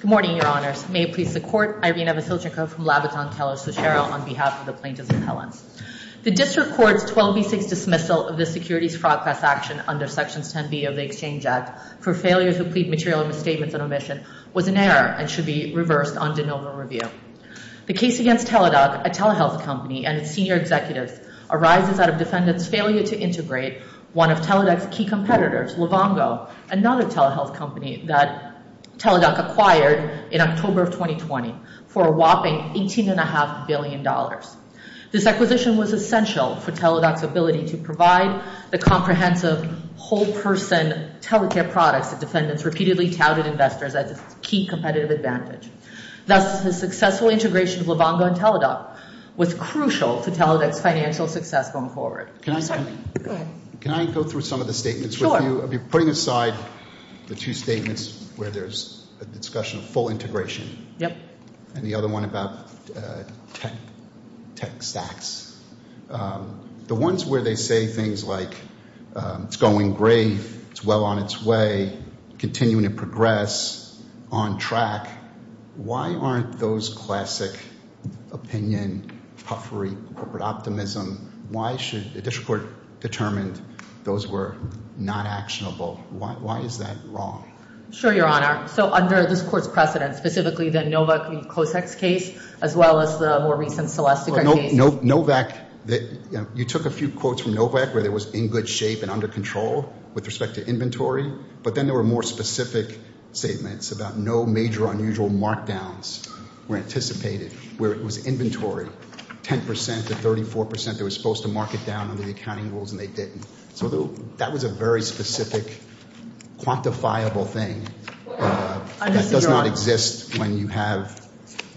Good morning, Your Honors. May it please the Court, Irena Vasilchenko from Labatton-Kellers-Suchero on behalf of the Plaintiffs' Appellants. The District Court's 12B6 dismissal of the Securities Fraud Class action under Sections 10B of the Exchange Act for failures to plead material misstatements and omission was an error and should be reversed on de novo review. The case against Teladoc, a telehealth company, and its senior executives arises out of defendants' failure to integrate one of Teladoc's key competitors, Livongo, another telehealth company that Teladoc acquired in October of 2020 for a whopping $18.5 billion. This acquisition was essential for Teladoc's ability to provide the comprehensive, whole-person telecare products that defendants repeatedly touted investors as its key competitive advantage. Thus, the successful integration of Livongo and Teladoc was crucial to Teladoc's financial success going forward. Can I go through some of the statements with you? Sure. I'll be putting aside the two statements where there's a discussion of full integration and the other one about tech sacks. The ones where they say things like, it's going great, it's well on its way, continuing to progress, on track, why aren't those classic opinion, puffery, corporate optimism, why should the District Court determine those were not actionable? Why is that wrong? Sure, Your Honor. So under this Court's precedent, specifically the Novak and Kosek case, as well as the more recent Celestica case. Novak, you took a few quotes from Novak where there was in good shape and under control with respect to inventory, but then there were more specific statements about no major unusual markdowns were anticipated. Where it was inventory, 10% to 34% that was supposed to mark it down under the accounting rules and they didn't. So that was a very specific, quantifiable thing that does not exist when you have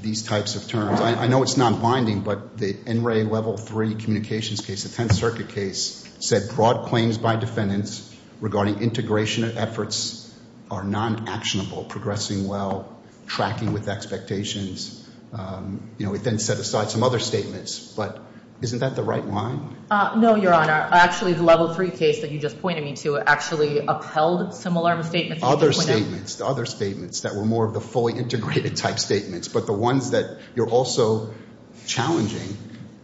these types of terms. I know it's not binding, but the NRA level three communications case, the Tenth Circuit case, said broad claims by defendants regarding integration efforts are non-actionable, progressing well, tracking with expectations. You know, it then set aside some other statements, but isn't that the right line? No, Your Honor. Actually, the level three case that you just pointed me to actually upheld similar statements. Other statements. The other statements that were more of the fully integrated type statements, but the ones that you're also challenging,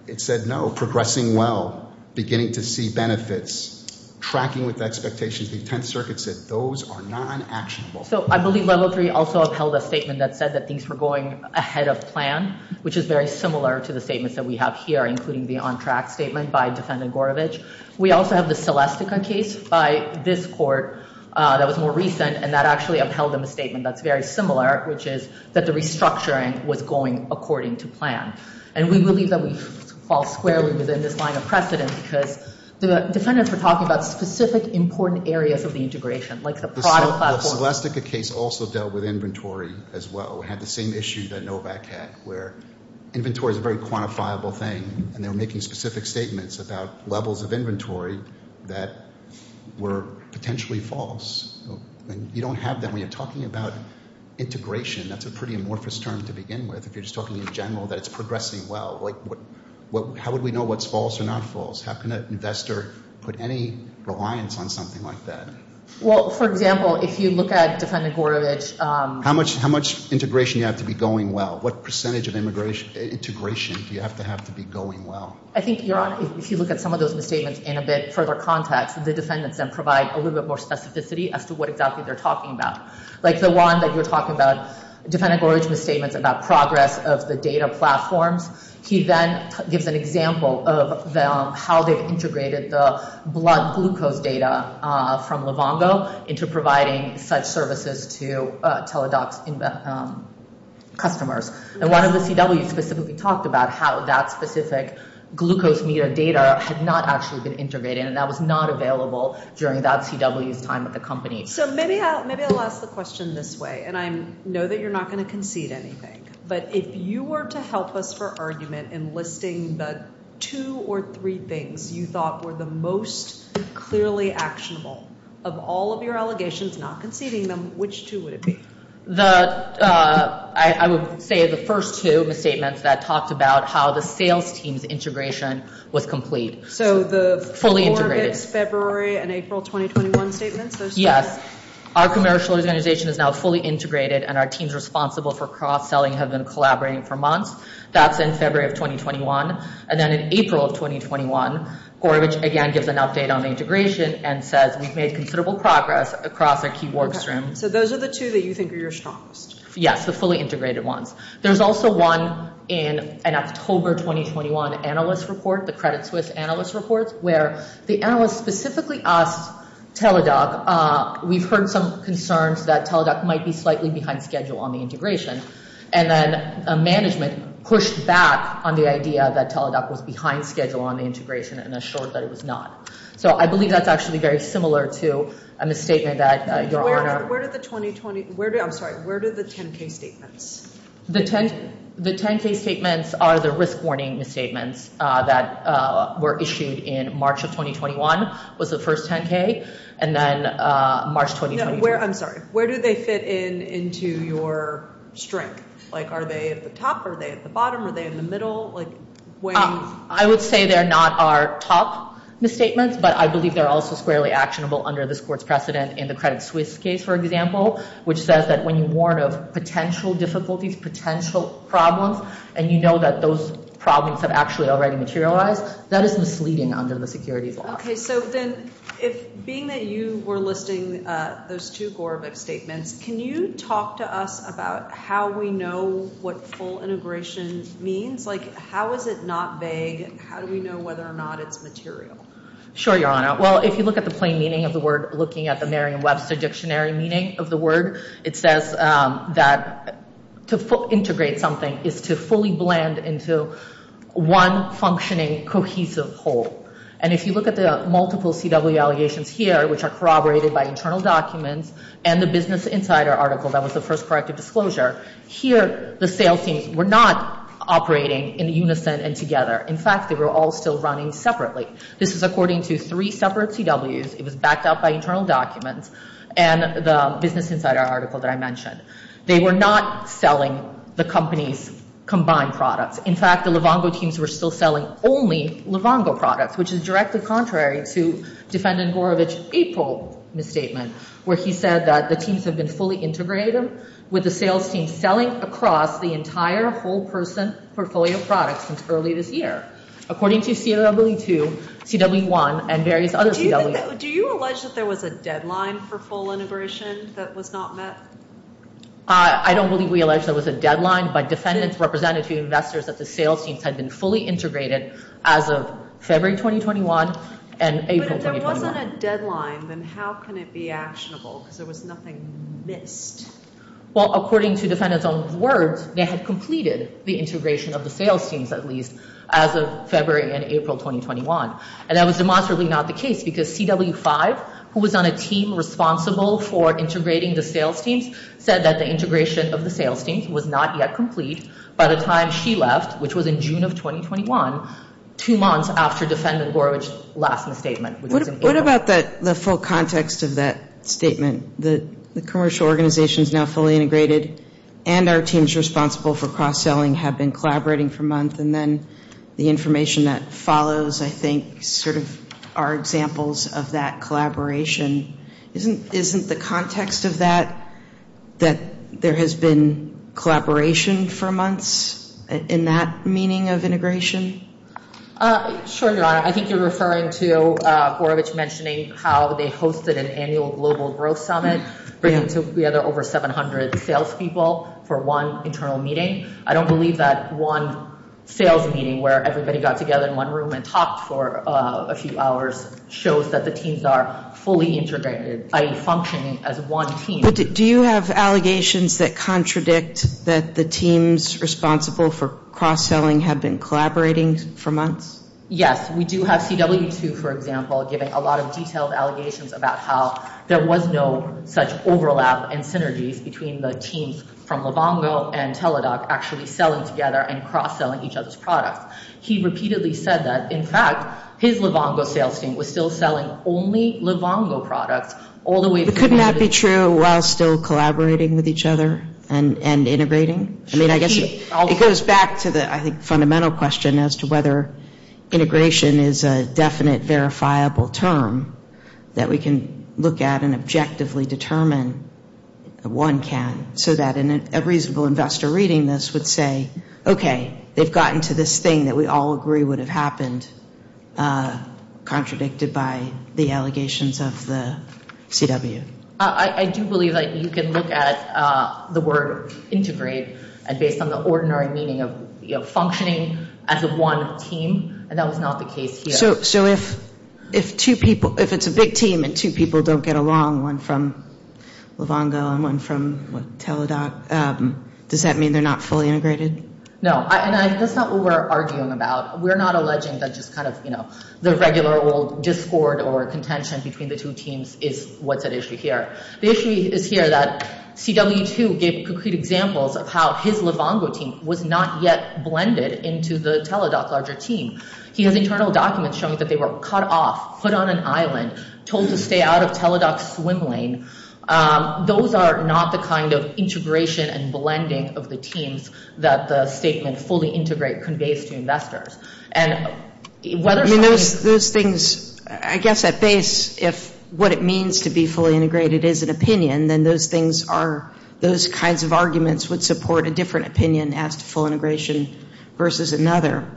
it said no, progressing well, beginning to see benefits, tracking with expectations. The Tenth Circuit said those are non-actionable. So I believe level three also upheld a statement that said that things were going ahead of plan, which is very similar to the statements that we have here, including the on-track statement by Defendant Gorovitch. We also have the Celestica case by this court that was more recent, and that actually upheld a statement that's very similar, which is that the restructuring was going according to plan. And we believe that we fall squarely within this line of precedent because the defendants were talking about specific important areas of the integration, like the product platform. The Celestica case also dealt with inventory as well. We had the same issue that Novak had, where inventory is a very quantifiable thing, and they were making specific statements about levels of inventory that were potentially false. And you don't have that when you're talking about integration. That's a pretty amorphous term to begin with. If you're just talking in general, that it's progressing well. Like, how would we know what's false or not false? How can an investor put any reliance on something like that? Well, for example, if you look at Defendant Gorovitch... How much integration do you have to be going well? What percentage of integration do you have to have to be going well? I think, Your Honor, if you look at some of those misstatements in a bit further context, the defendants then provide a little bit more specificity as to what exactly they're talking about. Like the one that you're talking about, Defendant Gorovitch's misstatements about progress of the data platforms. He then gives an example of how they've integrated the blood glucose data from Livongo into providing such services to Teladoc's customers. And one of the CWs specifically talked about how that specific glucose meter data had not actually been integrated, and that was not available during that CW's time at the company. So maybe I'll ask the question this way. And I know that you're not going to concede anything. But if you were to help us for argument in listing the two or three things you thought were the most clearly actionable of all of your allegations, not conceding them, which two would it be? I would say the first two misstatements that talked about how the sales team's integration was complete. So the... Fully integrated. ...February and April 2021 statements? Yes, our commercial organization is now fully integrated and our teams responsible for cross-selling have been collaborating for months. That's in February of 2021. And then in April of 2021, Gorovitch again gives an update on integration and says we've made considerable progress across our key work streams. So those are the two that you think are your strongest? Yes, the fully integrated ones. There's also one in an October 2021 analyst report, the Credit Suisse analyst reports, where the analyst specifically asked Teladoc, we've heard some concerns that Teladoc might be slightly behind schedule on the integration. And then management pushed back on the idea that Teladoc was behind schedule on the integration and assured that it was not. So I believe that's actually very similar to a misstatement that your Honor... Where did the 2020... I'm sorry, where did the 10K statements? The 10K statements are the risk warning misstatements that were issued in March of 2021, was the first 10K. And then March 2020... No, where... I'm sorry. Where do they fit in into your strength? Like, are they at the top? Are they at the bottom? Are they in the middle? Like, when... I would say they're not our top misstatements, but I believe they're also squarely actionable under this court's precedent in the Credit Suisse case, for example, which says that when you warn of potential difficulties, potential problems, and you know that those problems have actually already materialized, that is misleading under the securities law. Okay. So then, if being that you were listing those two Gorbik statements, can you talk to us about how we know what full integration means? Like, how is it not vague? How do we know whether or not it's material? Sure, your Honor. Well, if you look at the plain meaning of the word, looking at the Merriam-Webster dictionary meaning of the word, it says that to integrate something is to fully blend into one functioning cohesive whole. And if you look at the multiple CW allegations here, which are corroborated by internal documents and the Business Insider article that was the first corrective disclosure, here the sales teams were not operating in unison and together. In fact, they were all still running separately. This is according to three separate CWs. It was backed up by internal documents and the Business Insider article that I mentioned. They were not selling the company's combined products. In fact, the Livongo teams were still selling only Livongo products, which is directly contrary to Defendant Gorovitch's April misstatement, where he said that the teams have been fully integrated with the sales team selling across the entire whole person portfolio products since early this year. According to CW2, CW1, and various other CWs. Do you allege that there was a deadline for full integration that was not met? I don't believe we allege there was a deadline, but defendants represented two investors that the sales teams had been fully integrated as of February 2021 and April 2021. But if there wasn't a deadline, then how can it be actionable? Because there was nothing missed. Well, according to defendants' own words, they had completed the integration of the sales teams, at least as of February and April 2021. And that was demonstrably not the case, because CW5, who was on a team responsible for integrating the sales teams, said that the integration of the sales teams was not yet complete by the time she left, which was in June of 2021, two months after Defendant Gorovitch's last misstatement. What about the full context of that statement? The commercial organizations now fully integrated and our teams responsible for cross-selling have been collaborating for months. And then the information that follows, I think, sort of are examples of that collaboration. Isn't the context of that that there has been collaboration for months in that meaning of integration? Sure, Your Honor. I think you're referring to Gorovitch mentioning how they hosted an annual global growth summit, bringing together over 700 salespeople for one internal meeting. I don't believe that one sales meeting where everybody got together in one room and talked for a few hours shows that the teams are fully integrated, i.e., functioning as one team. But do you have allegations that contradict that the teams responsible for cross-selling have been collaborating for months? Yes, we do have CW2, for example, giving a lot of detailed allegations about how there was no such overlap and synergies between the teams from Livongo and Teladoc actually selling together and cross-selling each other's products. He repeatedly said that, in fact, his Livongo sales team was still selling only Livongo products all the way to Canada. Would it be true while still collaborating with each other and integrating? I mean, I guess it goes back to the, I think, fundamental question as to whether integration is a definite, verifiable term that we can look at and objectively determine one can, so that a reasonable investor reading this would say, okay, they've gotten to this thing that we all agree would have happened, contradicted by the allegations of the CW. I do believe that you can look at the word integrate based on the ordinary meaning of functioning as one team, and that was not the case here. So if two people, if it's a big team and two people don't get along, one from Livongo and one from Teladoc, does that mean they're not fully integrated? No, and that's not what we're arguing about. We're not alleging that just kind of, you know, the regular old discord or contention between the two teams is what's at issue here. The issue is here that CW2 gave concrete examples of how his Livongo team was not yet blended into the Teladoc larger team. He has internal documents showing that they were cut off, put on an island, told to stay out of Teladoc's swim lane. Those are not the kind of integration and blending of the teams that the statement fully integrate conveys to investors. And whether or not he's... I mean, those things, I guess at base, if what it means to be fully integrated is an opinion, then those things are, those kinds of arguments would support a different opinion as to full integration versus another.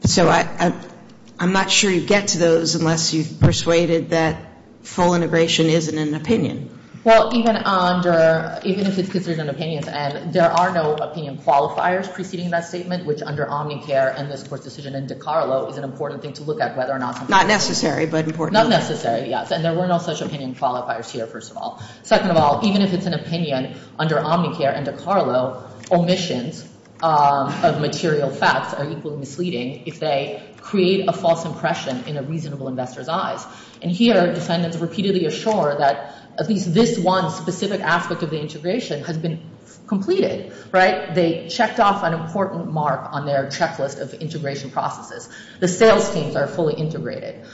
So I'm not sure you get to those unless you've persuaded that full integration isn't an opinion. Well, even under, even if it's considered an opinion, and there are no opinion qualifiers preceding that statement, which under Omnicare and this Court's decision in DiCarlo is an important thing to look at whether or not... Not necessary, but important. Not necessary, yes. And there were no such opinion qualifiers here, first of all. Second of all, even if it's an opinion under Omnicare and DiCarlo, omissions of material facts are equally misleading if they create a false impression in a reasonable investor's eyes. And here, defendants repeatedly assure that at least this one specific aspect of the integration has been completed, right? They checked off an important mark on their checklist of integration processes. The sales teams are fully integrated.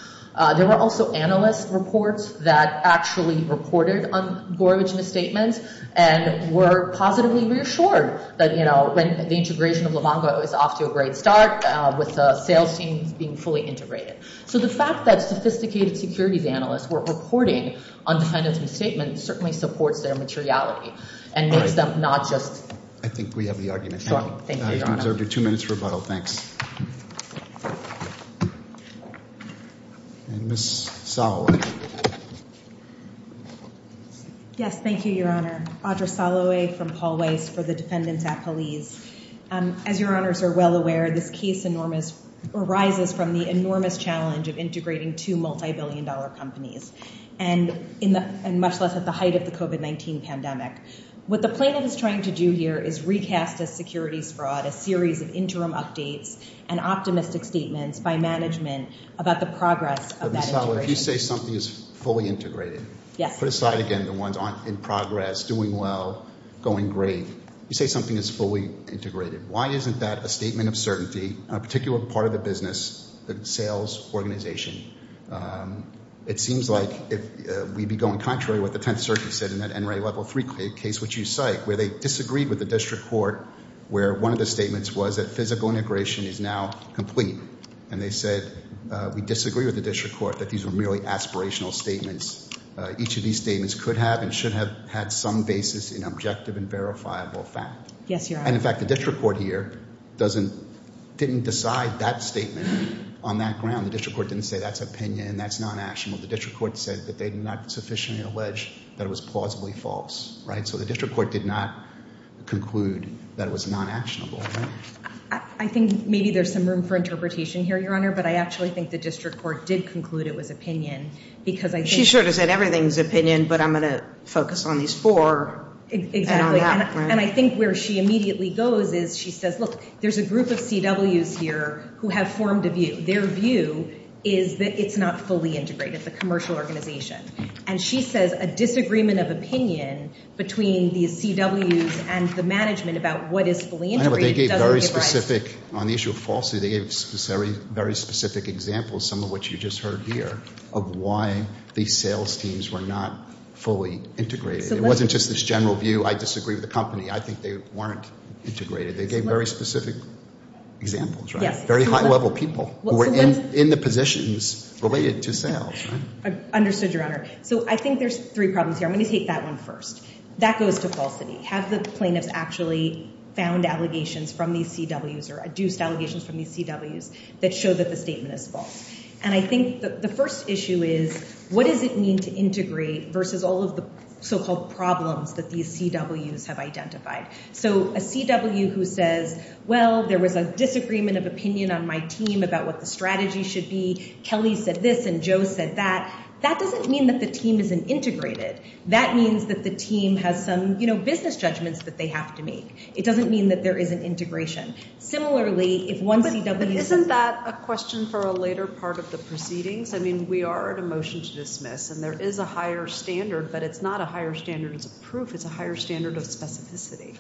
There were also analyst reports that actually reported on Gorevich misstatements and were positively reassured that, you know, the integration of Livongo is off to a great start with the sales teams being fully integrated. So the fact that sophisticated securities analysts were reporting on defendants' misstatements certainly supports their materiality and makes them not just... I think we have the argument. Thank you, Your Honor. I observe your two minutes rebuttal. Thanks. And Ms. Soloway. Yes, thank you, Your Honor. Audra Soloway from Paul Weiss for the Defendants at Police. As Your Honors are well aware, this case arises from the enormous challenge of integrating two multibillion-dollar companies, and much less at the height of the COVID-19 pandemic. What the plaintiff is trying to do here is recast as securities fraud a series of interim updates and optimistic statements by management about the progress of that integration. But Ms. Soloway, if you say something is fully integrated, put aside again the ones in progress, doing well, going great. You say something is fully integrated. Why isn't that a statement of certainty on a particular part of the business, the sales organization? It seems like we'd be going contrary to what the Tenth Circuit said in that NRA Level 3 case, which you cite, where they disagreed with the district court where one of the statements was that physical integration is now complete. And they said, we disagree with the district court that these were merely aspirational statements. Each of these statements could have and should have had some basis in objective and verifiable fact. Yes, Your Honor. And in fact, the district court here didn't decide that statement on that ground. The district court didn't say that's opinion, that's non-actionable. The district court said that they did not sufficiently allege that it was plausibly false. So the district court did not conclude that it was non-actionable. I think maybe there's some room for interpretation here, Your Honor. But I actually think the district court did conclude it was opinion. She should have said everything's opinion, but I'm going to focus on these four. Exactly. And I think where she immediately goes is she says, look, there's a group of CWs here who have formed a view. Their view is that it's not fully integrated, the commercial organization. And she says a disagreement of opinion between these CWs and the management about what is fully integrated doesn't give rights. On the issue of falsity, they gave very specific examples, some of which you just heard here, of why these sales teams were not fully integrated. It wasn't just this general view, I disagree with the company, I think they weren't integrated. They gave very specific examples, very high-level people who were in the positions related to sales. I understood, Your Honor. So I think there's three problems here. I'm going to take that one first. That goes to falsity. Have the plaintiffs actually found allegations from these CWs or adduced allegations from these CWs that show that the statement is false? And I think the first issue is what does it mean to integrate versus all of the so-called problems that these CWs have identified? So a CW who says, well, there was a disagreement of opinion on my team about what the strategy should be. Kelly said this and Joe said that. That doesn't mean that the team isn't integrated. That means that the team has some, you know, business judgments that they have to make. It doesn't mean that there isn't integration. Similarly, if one CW is- But isn't that a question for a later part of the proceedings? I mean, we are at a motion to dismiss, and there is a higher standard, but it's not a higher standard of proof. It's a higher standard of specificity.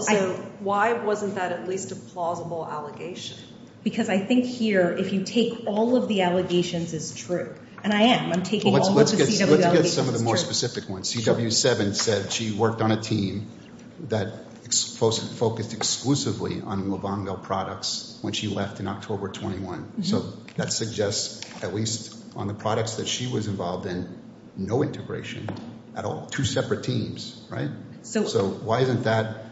So why wasn't that at least a plausible allegation? Because I think here, if you take all of the allegations as true, and I am. I'm taking all of the CW allegations as true. Let's get some of the more specific ones. CW7 said she worked on a team that focused exclusively on Levanville products when she left in October 21. So that suggests, at least on the products that she was involved in, no integration at all. Two separate teams, right? So why isn't that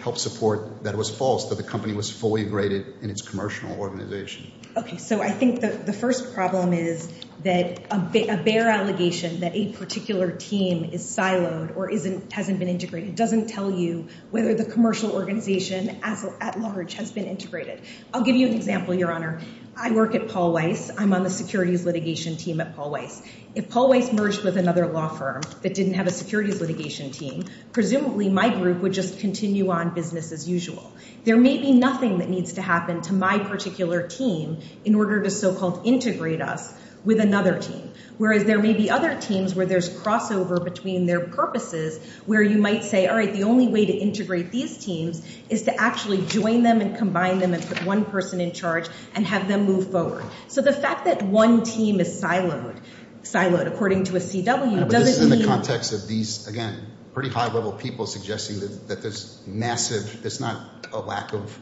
help support that it was false that the company was fully graded in its commercial organization? Okay, so I think the first problem is that a bare allegation that a particular team is siloed or hasn't been integrated doesn't tell you whether the commercial organization at large has been integrated. I'll give you an example, Your Honor. I work at Paul Weiss. I'm on the securities litigation team at Paul Weiss. If Paul Weiss merged with another law firm that didn't have a securities litigation team, presumably my group would just continue on business as usual. There may be nothing that needs to happen to my particular team in order to so-called integrate us with another team, whereas there may be other teams where there's crossover between their purposes where you might say, all right, the only way to integrate these teams is to actually join them and combine them and put one person in charge and have them move forward. So the fact that one team is siloed, according to a CW, doesn't mean— a lack of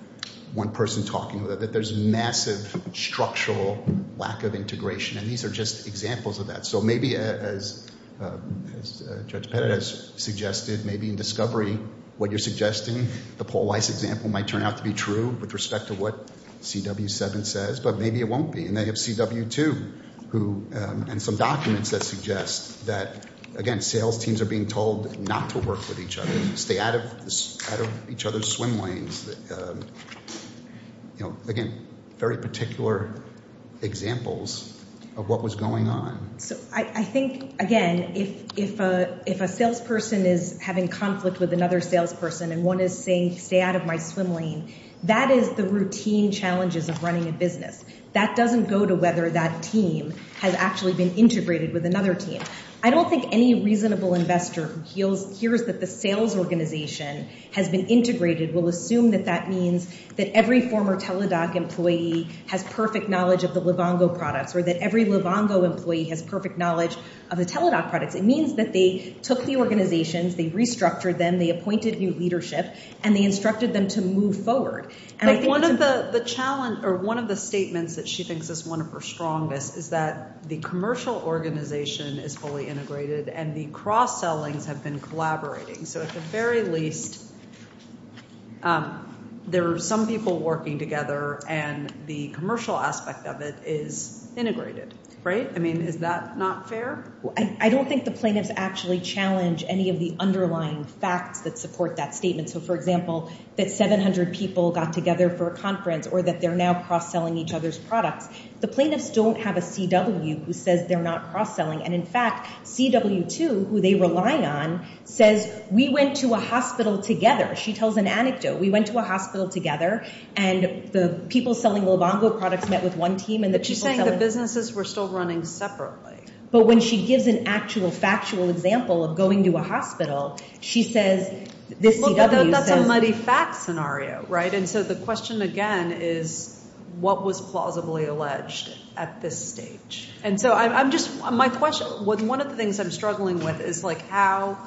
one person talking, that there's massive structural lack of integration. And these are just examples of that. So maybe as Judge Pettit has suggested, maybe in discovery, what you're suggesting, the Paul Weiss example might turn out to be true with respect to what CW 7 says, but maybe it won't be. And they have CW 2 who—and some documents that suggest that, again, sales teams are being told not to work with each other, stay out of each other's swim lanes. Again, very particular examples of what was going on. So I think, again, if a salesperson is having conflict with another salesperson and one is saying, stay out of my swim lane, that is the routine challenges of running a business. That doesn't go to whether that team has actually been integrated with another team. I don't think any reasonable investor who hears that the sales organization has been integrated will assume that that means that every former Teladoc employee has perfect knowledge of the Livongo products or that every Livongo employee has perfect knowledge of the Teladoc products. It means that they took the organizations, they restructured them, they appointed new leadership, and they instructed them to move forward. But one of the statements that she thinks is one of her strongest is that the commercial organization is fully integrated and the cross-sellings have been collaborating. So at the very least, there are some people working together and the commercial aspect of it is integrated. Right? I mean, is that not fair? I don't think the plaintiffs actually challenge any of the underlying facts that support that statement. So, for example, that 700 people got together for a conference or that they're now cross-selling each other's products. The plaintiffs don't have a CW who says they're not cross-selling. And, in fact, CW2, who they rely on, says, we went to a hospital together. She tells an anecdote. We went to a hospital together and the people selling Livongo products met with one team and the people selling— But she's saying the businesses were still running separately. But when she gives an actual factual example of going to a hospital, she says— Look, that's a muddy fact scenario, right? And so the question, again, is what was plausibly alleged at this stage? And so I'm just—my question—one of the things I'm struggling with is, like, how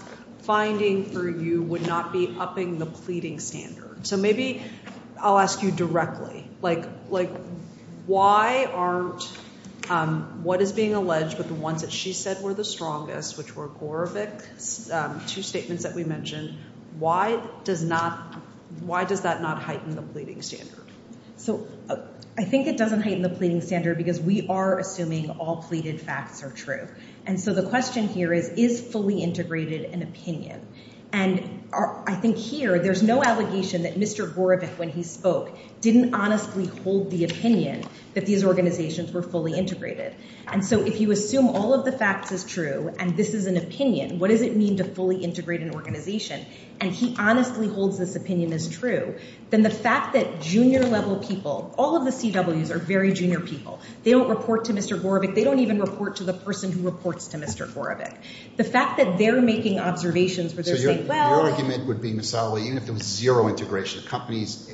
finding for you would not be upping the pleading standard. So maybe I'll ask you directly. Like, why aren't—what is being alleged, but the ones that she said were the strongest, which were Gorevic's two statements that we mentioned, why does that not heighten the pleading standard? So I think it doesn't heighten the pleading standard because we are assuming all pleaded facts are true. And so the question here is, is fully integrated an opinion? And I think here there's no allegation that Mr. Gorevic, when he spoke, didn't honestly hold the opinion that these organizations were fully integrated. And so if you assume all of the facts is true and this is an opinion, what does it mean to fully integrate an organization, and he honestly holds this opinion is true, then the fact that junior-level people—all of the CWs are very junior people. They don't report to Mr. Gorevic. They don't even report to the person who reports to Mr. Gorevic. The fact that they're making observations where they're saying, well— So your argument would be, Ms. Ali, even if there was zero integration, companies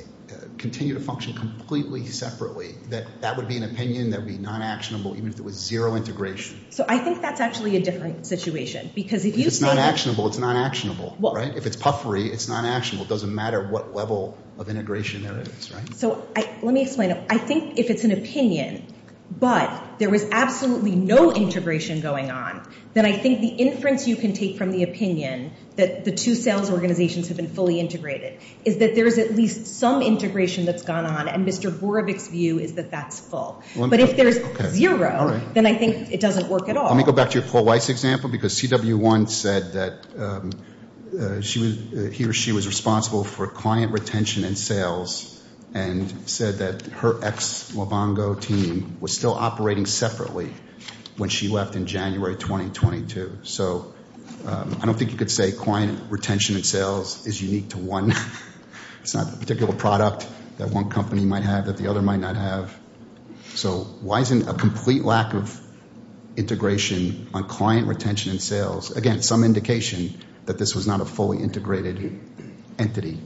continue to function completely separately, that that would be an opinion that would be non-actionable even if there was zero integration? So I think that's actually a different situation because if you— If it's non-actionable, it's non-actionable, right? If it's puffery, it's non-actionable. It doesn't matter what level of integration there is, right? So let me explain. I think if it's an opinion but there was absolutely no integration going on, then I think the inference you can take from the opinion that the two sales organizations have been fully integrated is that there is at least some integration that's gone on, and Mr. Gorevic's view is that that's full. But if there's zero, then I think it doesn't work at all. Let me go back to your Paul Weiss example because CW1 said that he or she was responsible for client retention and sales and said that her ex-Lobongo team was still operating separately when she left in January 2022. So I don't think you could say client retention and sales is unique to one— one might have that the other might not have. So why isn't a complete lack of integration on client retention and sales, again, some indication that this was not a fully integrated entity?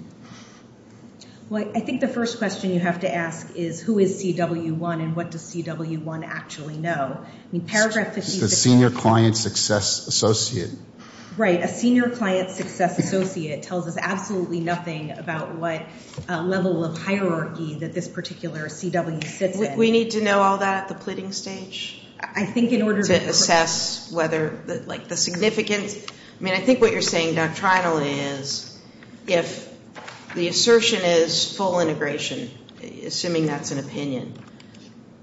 Well, I think the first question you have to ask is who is CW1 and what does CW1 actually know? I mean, paragraph 50— The Senior Client Success Associate. Right. A Senior Client Success Associate tells us absolutely nothing about what level of hierarchy that this particular CW sits in. We need to know all that at the pleading stage? I think in order to— To assess whether, like, the significance—I mean, I think what you're saying doctrinally is if the assertion is full integration, assuming that's an opinion,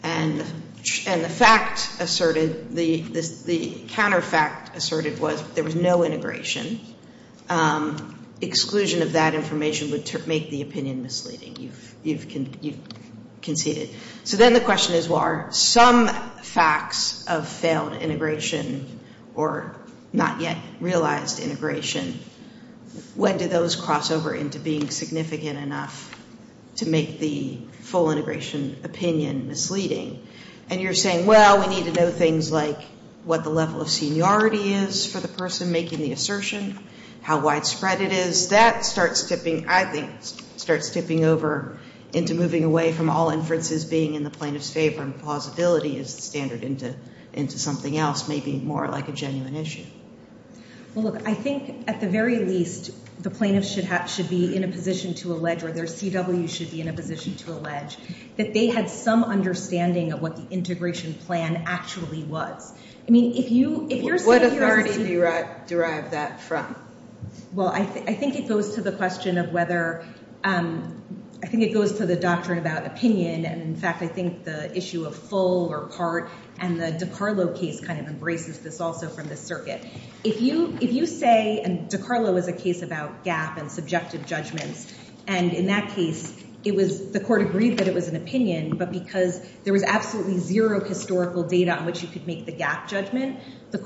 and the fact asserted—the counterfact asserted was there was no integration, exclusion of that information would make the opinion misleading. You've conceded. So then the question is why are some facts of failed integration or not yet realized integration, when do those cross over into being significant enough to make the full integration opinion misleading? And you're saying, well, we need to know things like what the level of seniority is for the person making the assertion, how widespread it is. Well, that starts tipping—I think starts tipping over into moving away from all inferences being in the plaintiff's favor and plausibility as the standard into something else, maybe more like a genuine issue. Well, look, I think at the very least the plaintiff should be in a position to allege or their CW should be in a position to allege that they had some understanding of what the integration plan actually was. I mean, if you're saying— What authority do you derive that from? Well, I think it goes to the question of whether—I think it goes to the doctrine about opinion, and in fact I think the issue of full or part and the DiCarlo case kind of embraces this also from the circuit. If you say—and DiCarlo is a case about gap and subjective judgments, and in that case it was—the court agreed that it was an opinion, but because there was absolutely zero historical data on which you could make the gap judgment, this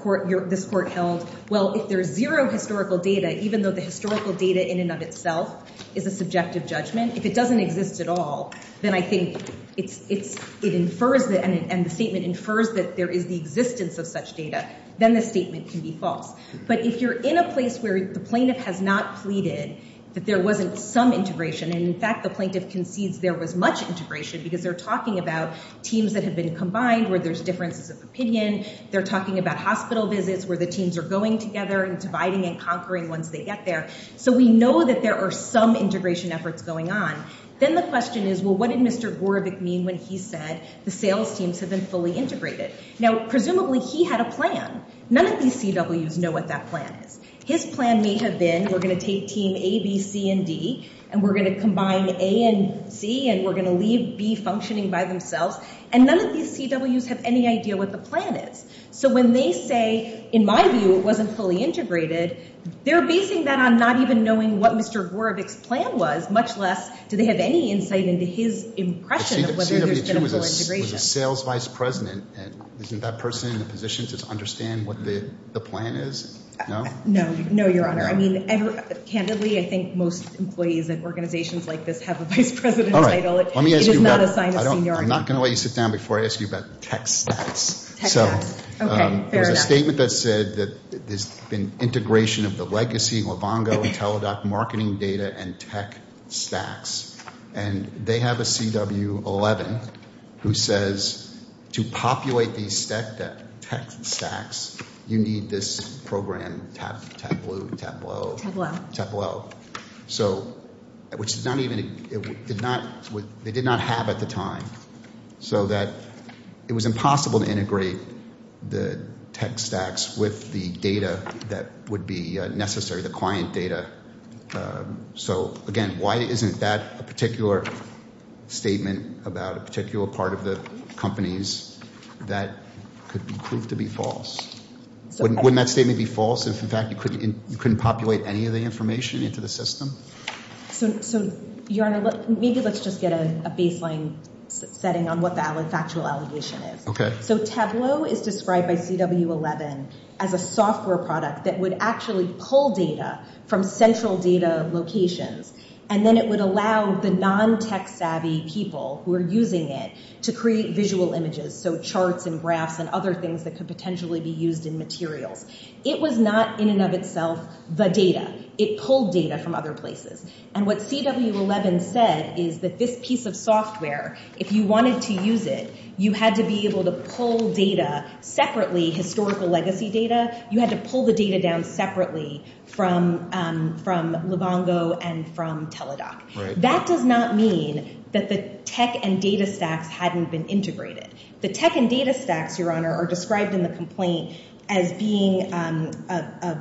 court held, well, if there's zero historical data, even though the historical data in and of itself is a subjective judgment, if it doesn't exist at all, then I think it infers—and the statement infers that there is the existence of such data, then the statement can be false. But if you're in a place where the plaintiff has not pleaded that there wasn't some integration, and in fact the plaintiff concedes there was much integration because they're talking about teams that have been combined where there's differences of opinion, they're talking about hospital visits where the teams are going together and dividing and conquering once they get there, so we know that there are some integration efforts going on, then the question is, well, what did Mr. Gorevic mean when he said the sales teams have been fully integrated? Now, presumably he had a plan. None of these CWs know what that plan is. His plan may have been we're going to take team A, B, C, and D, and we're going to combine A and C, and we're going to leave B functioning by themselves, and none of these CWs have any idea what the plan is. So when they say, in my view, it wasn't fully integrated, they're basing that on not even knowing what Mr. Gorevic's plan was, much less do they have any insight into his impression of whether there's been a full integration. But CW2 was a sales vice president, and isn't that person in a position to understand what the plan is? No? No. No, Your Honor. I mean, candidly, I think most employees at organizations like this have a vice president title. All right. It is not a sign of seniority. I'm not going to let you sit down before I ask you about tech stacks. Tech stacks. Okay. Fair enough. So there's a statement that said that there's been integration of the legacy, Livongo, and Teladoc marketing data and tech stacks, and they have a CW11 who says to populate these tech stacks, you need this program, Tableau. Tableau. Tableau. Which they did not have at the time, so that it was impossible to integrate the tech stacks with the data that would be necessary, the client data. So, again, why isn't that a particular statement about a particular part of the companies that could prove to be false? Wouldn't that statement be false if, in fact, you couldn't populate any of the information into the system? So, Your Honor, maybe let's just get a baseline setting on what the factual allegation is. Okay. So Tableau is described by CW11 as a software product that would actually pull data from central data locations, and then it would allow the non-tech savvy people who are using it to create visual images, so charts and graphs and other things that could potentially be used in materials. It was not, in and of itself, the data. It pulled data from other places. And what CW11 said is that this piece of software, if you wanted to use it, you had to be able to pull data separately, historical legacy data. You had to pull the data down separately from Livongo and from Teladoc. That does not mean that the tech and data stacks hadn't been integrated. The tech and data stacks, Your Honor, are described in the complaint as being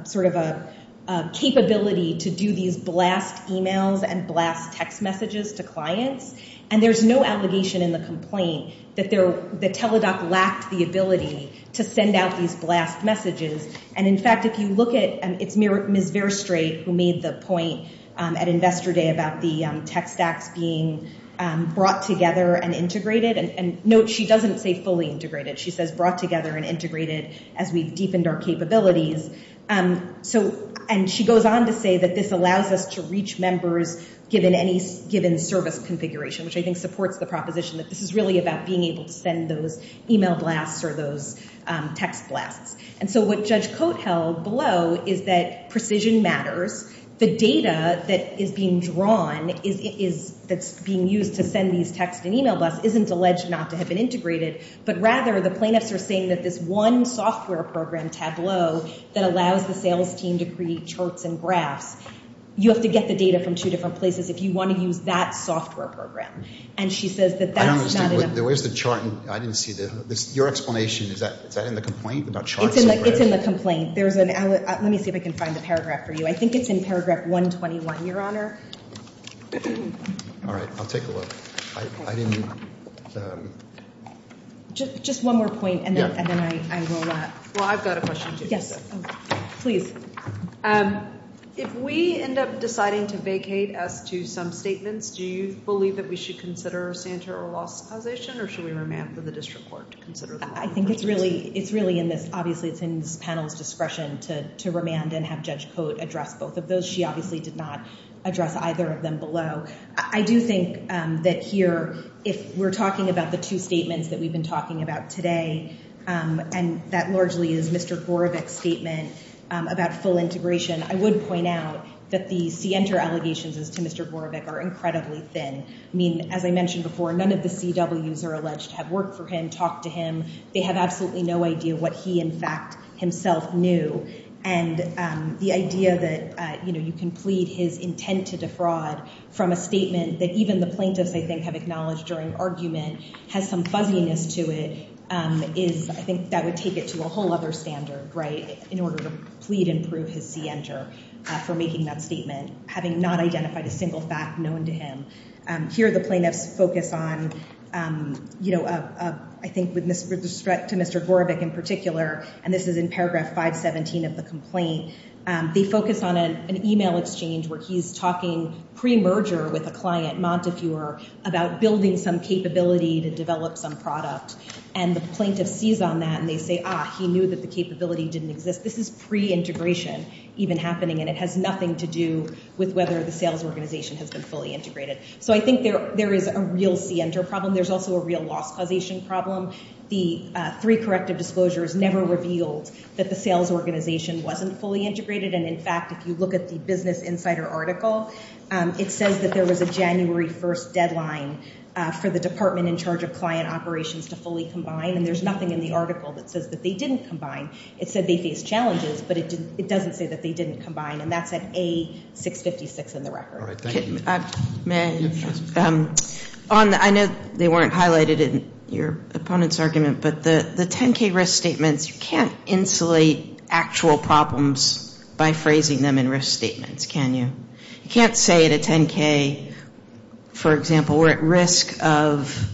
sort of a capability to do these blast emails and blast text messages to clients, and there's no allegation in the complaint that Teladoc lacked the ability to send out these blast messages. And, in fact, if you look at it, it's Ms. Verstraete who made the point at Investor Day about the tech stacks being brought together and integrated. And note, she doesn't say fully integrated. She says brought together and integrated as we've deepened our capabilities. And she goes on to say that this allows us to reach members given any given service configuration, which I think supports the proposition that this is really about being able to send those email blasts or those text blasts. And so what Judge Cote held below is that precision matters. The data that is being drawn that's being used to send these text and email blasts isn't alleged not to have been integrated, but rather the plaintiffs are saying that this one software program tableau that allows the sales team to create charts and graphs, you have to get the data from two different places if you want to use that software program. And she says that that's not enough. Your explanation, is that in the complaint about charts and graphs? It's in the complaint. Let me see if I can find the paragraph for you. I think it's in paragraph 121, Your Honor. All right. I'll take a look. I didn't. Just one more point, and then I will wrap. Well, I've got a question, too. Yes. Please. If we end up deciding to vacate as to some statements, do you believe that we should consider a Santer or loss causation, or should we remand for the district court to consider them? I think it's really in this panel's discretion to remand and have Judge Cote address both of those. She obviously did not address either of them below. I do think that here, if we're talking about the two statements that we've been talking about today, and that largely is Mr. Gorevic's statement about full integration, I would point out that the Sienter allegations as to Mr. Gorevic are incredibly thin. I mean, as I mentioned before, none of the CWs are alleged to have worked for him, talked to him. They have absolutely no idea what he, in fact, himself knew. And the idea that, you know, you can plead his intent to defraud from a statement that even the plaintiffs, I think, have acknowledged during argument has some fuzziness to it is, I think, that would take it to a whole other standard, right, in order to plead and prove his Sienter for making that statement, having not identified a single fact known to him. Here, the plaintiffs focus on, you know, I think with respect to Mr. Gorevic in particular, and this is in paragraph 517 of the complaint, they focus on an email exchange where he's talking pre-merger with a client, Montefiore, about building some capability to develop some product. And the plaintiff sees on that, and they say, ah, he knew that the capability didn't exist. This is pre-integration even happening, and it has nothing to do with whether the sales organization has been fully integrated. So I think there is a real Sienter problem. There's also a real loss causation problem. The three corrective disclosures never revealed that the sales organization wasn't fully integrated. And, in fact, if you look at the Business Insider article, it says that there was a January 1st deadline for the department in charge of client operations to fully combine, and there's nothing in the article that says that they didn't combine. It said they faced challenges, but it doesn't say that they didn't combine, and that's at A656 in the record. All right. Thank you. May I? Yes, please. I know they weren't highlighted in your opponent's argument, but the 10K risk statements, you can't insulate actual problems by phrasing them in risk statements, can you? You can't say at a 10K, for example, we're at risk of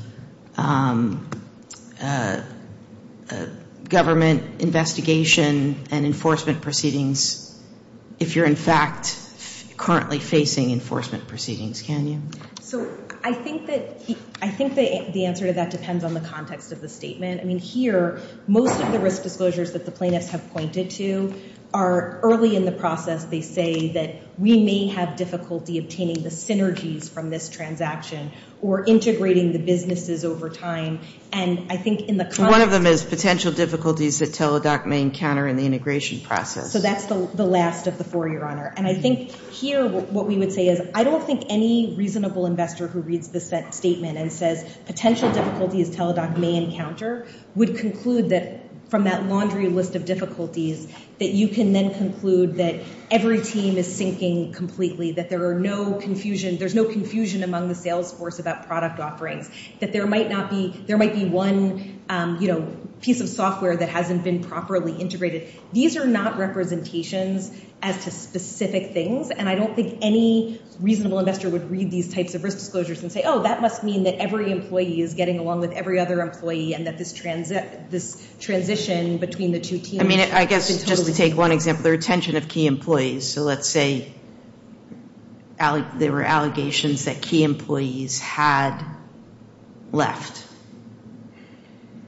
government investigation and enforcement proceedings if you're, in fact, currently facing enforcement proceedings, can you? So I think the answer to that depends on the context of the statement. I mean, here, most of the risk disclosures that the plaintiffs have pointed to are early in the process. They say that we may have difficulty obtaining the synergies from this transaction or integrating the businesses over time. And I think in the context of- One of them is potential difficulties that Teladoc may encounter in the integration process. So that's the last of the four, Your Honor. And I think here what we would say is I don't think any reasonable investor who reads this statement and says potential difficulties Teladoc may encounter would conclude that from that laundry list of difficulties that you can then conclude that every team is sinking completely, that there's no confusion among the sales force about product offerings, that there might be one piece of software that hasn't been properly integrated. These are not representations as to specific things, and I don't think any reasonable investor would read these types of risk disclosures and say, oh, that must mean that every employee is getting along with every other employee and that this transition between the two teams- I mean, I guess just to take one example, the retention of key employees. So let's say there were allegations that key employees had left,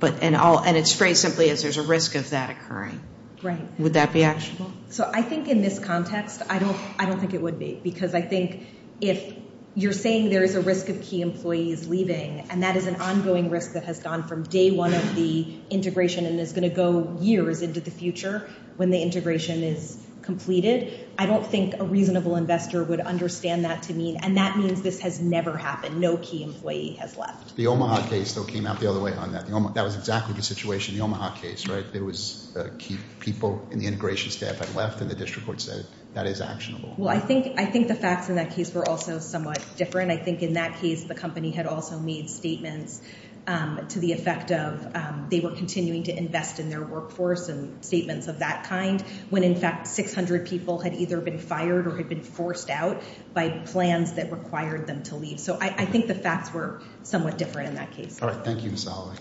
and it's phrased simply as there's a risk of that occurring. Right. Would that be actionable? So I think in this context, I don't think it would be because I think if you're saying there is a risk of key employees leaving, and that is an ongoing risk that has gone from day one of the integration and is going to go years into the future when the integration is completed, I don't think a reasonable investor would understand that to mean- and that means this has never happened. No key employee has left. The Omaha case, though, came out the other way on that. That was exactly the situation in the Omaha case, right? There was key people in the integration staff had left, and the district court said that is actionable. Well, I think the facts in that case were also somewhat different. I think in that case, the company had also made statements to the effect of they were continuing to invest in their workforce and statements of that kind when, in fact, 600 people had either been fired or had been forced out by plans that required them to leave. So I think the facts were somewhat different in that case. All right. Thank you, Ms. Holloway.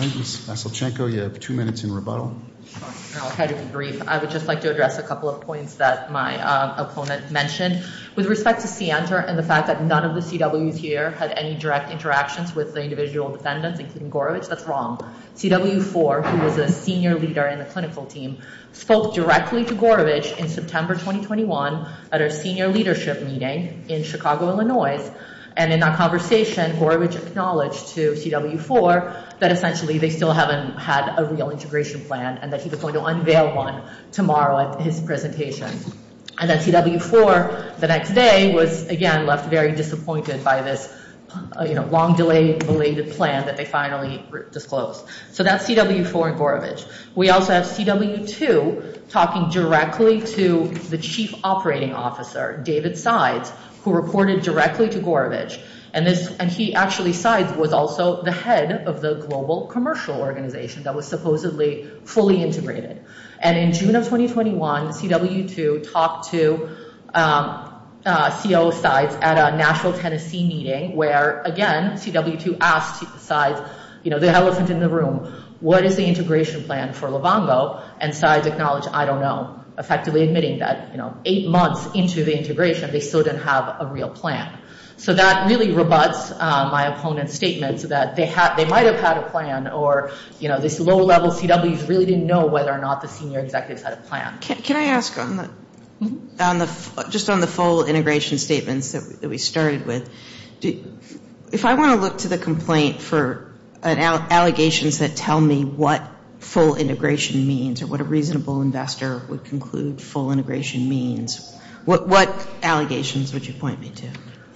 Ms. Vasilchenko, you have two minutes in rebuttal. I'll try to be brief. I would just like to address a couple of points that my opponent mentioned. With respect to CNTR and the fact that none of the CWs here had any direct interactions with the individual defendants, including Gorovitch, that's wrong. CW4, who was a senior leader in the clinical team, spoke directly to Gorovitch in September 2021 at our senior leadership meeting in Chicago, Illinois. And in that conversation, Gorovitch acknowledged to CW4 that, essentially, they still haven't had a real integration plan and that he was going to unveil one tomorrow at his presentation. And that CW4, the next day, was, again, left very disappointed by this long-delayed plan that they finally disclosed. So that's CW4 and Gorovitch. We also have CW2 talking directly to the chief operating officer, David Sides, who reported directly to Gorovitch. And he actually, Sides, was also the head of the global commercial organization that was supposedly fully integrated. And in June of 2021, CW2 talked to COO Sides at a Nashville, Tennessee meeting, where, again, CW2 asked Sides, you know, the elephant in the room, what is the integration plan for Livongo? And Sides acknowledged, I don't know, effectively admitting that, you know, eight months into the integration, they still didn't have a real plan. So that really rebuts my opponent's statement that they might have had a plan or, you know, this low-level CWs really didn't know whether or not the senior executives had a plan. Can I ask, just on the full integration statements that we started with, if I want to look to the complaint for allegations that tell me what full integration means or what a reasonable investor would conclude full integration means, what allegations would you point me to?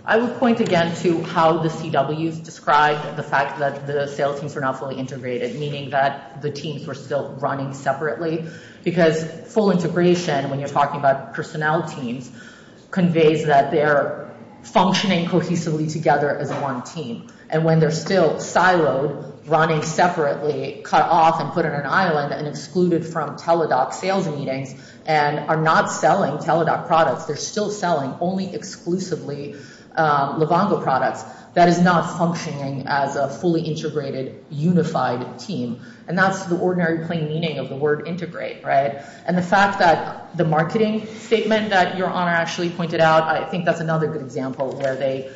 I would point again to how the CWs described the fact that the sales teams were not fully integrated, meaning that the teams were still running separately. Because full integration, when you're talking about personnel teams, conveys that they're functioning cohesively together as one team. And when they're still siloed, running separately, cut off and put on an island and excluded from Teladoc sales meetings and are not selling Teladoc products, they're still selling only exclusively Livongo products, that is not functioning as a fully integrated, unified team. And that's the ordinary plain meaning of the word integrate, right? And the fact that the marketing statement that Your Honor actually pointed out, I think that's another good example where they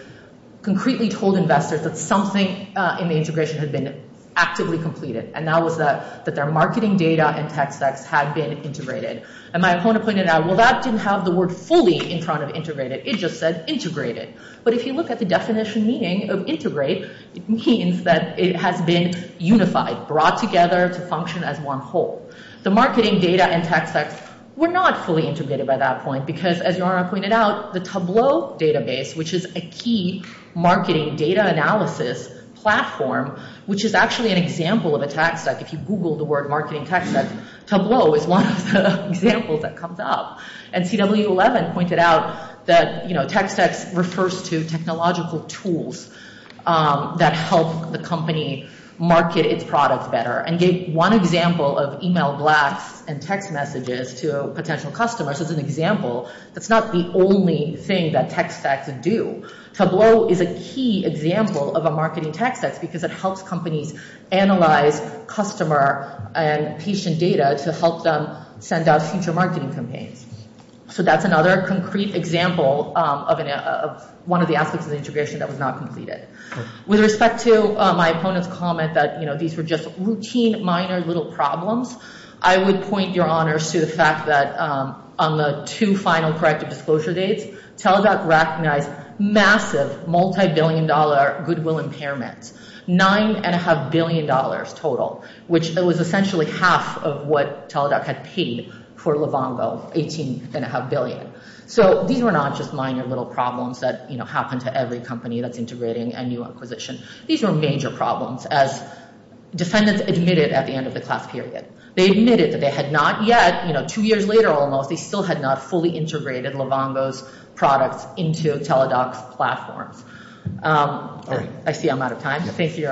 concretely told investors that something in the integration had been actively completed. And that was that their marketing data and tech stacks had been integrated. And my opponent pointed out, well, that didn't have the word fully in front of integrated. It just said integrated. But if you look at the definition meaning of integrate, it means that it has been unified, brought together to function as one whole. The marketing data and tech stacks were not fully integrated by that point because, as Your Honor pointed out, the Tableau database, which is a key marketing data analysis platform, which is actually an example of a tech stack. If you Google the word marketing tech stack, Tableau is one of the examples that comes up. And CW11 pointed out that tech stacks refers to technological tools that help the company market its products better and gave one example of email blacks and text messages to a potential customer. So it's an example that's not the only thing that tech stacks do. Tableau is a key example of a marketing tech stack because it helps companies analyze customer and patient data to help them send out future marketing campaigns. So that's another concrete example of one of the aspects of the integration that was not completed. With respect to my opponent's comment that these were just routine, minor, little problems, I would point, Your Honor, to the fact that on the two final corrective disclosure dates, Teladoc recognized massive, multibillion-dollar goodwill impairments, $9.5 billion total, which was essentially half of what Teladoc had paid for Livongo, $18.5 billion. So these were not just minor, little problems that happen to every company that's integrating a new acquisition. These were major problems, as defendants admitted at the end of the class period. They admitted that they had not yet, two years later almost, they still had not fully integrated Livongo's products into Teladoc's platforms. I see I'm out of time. Thank you, Your Honor.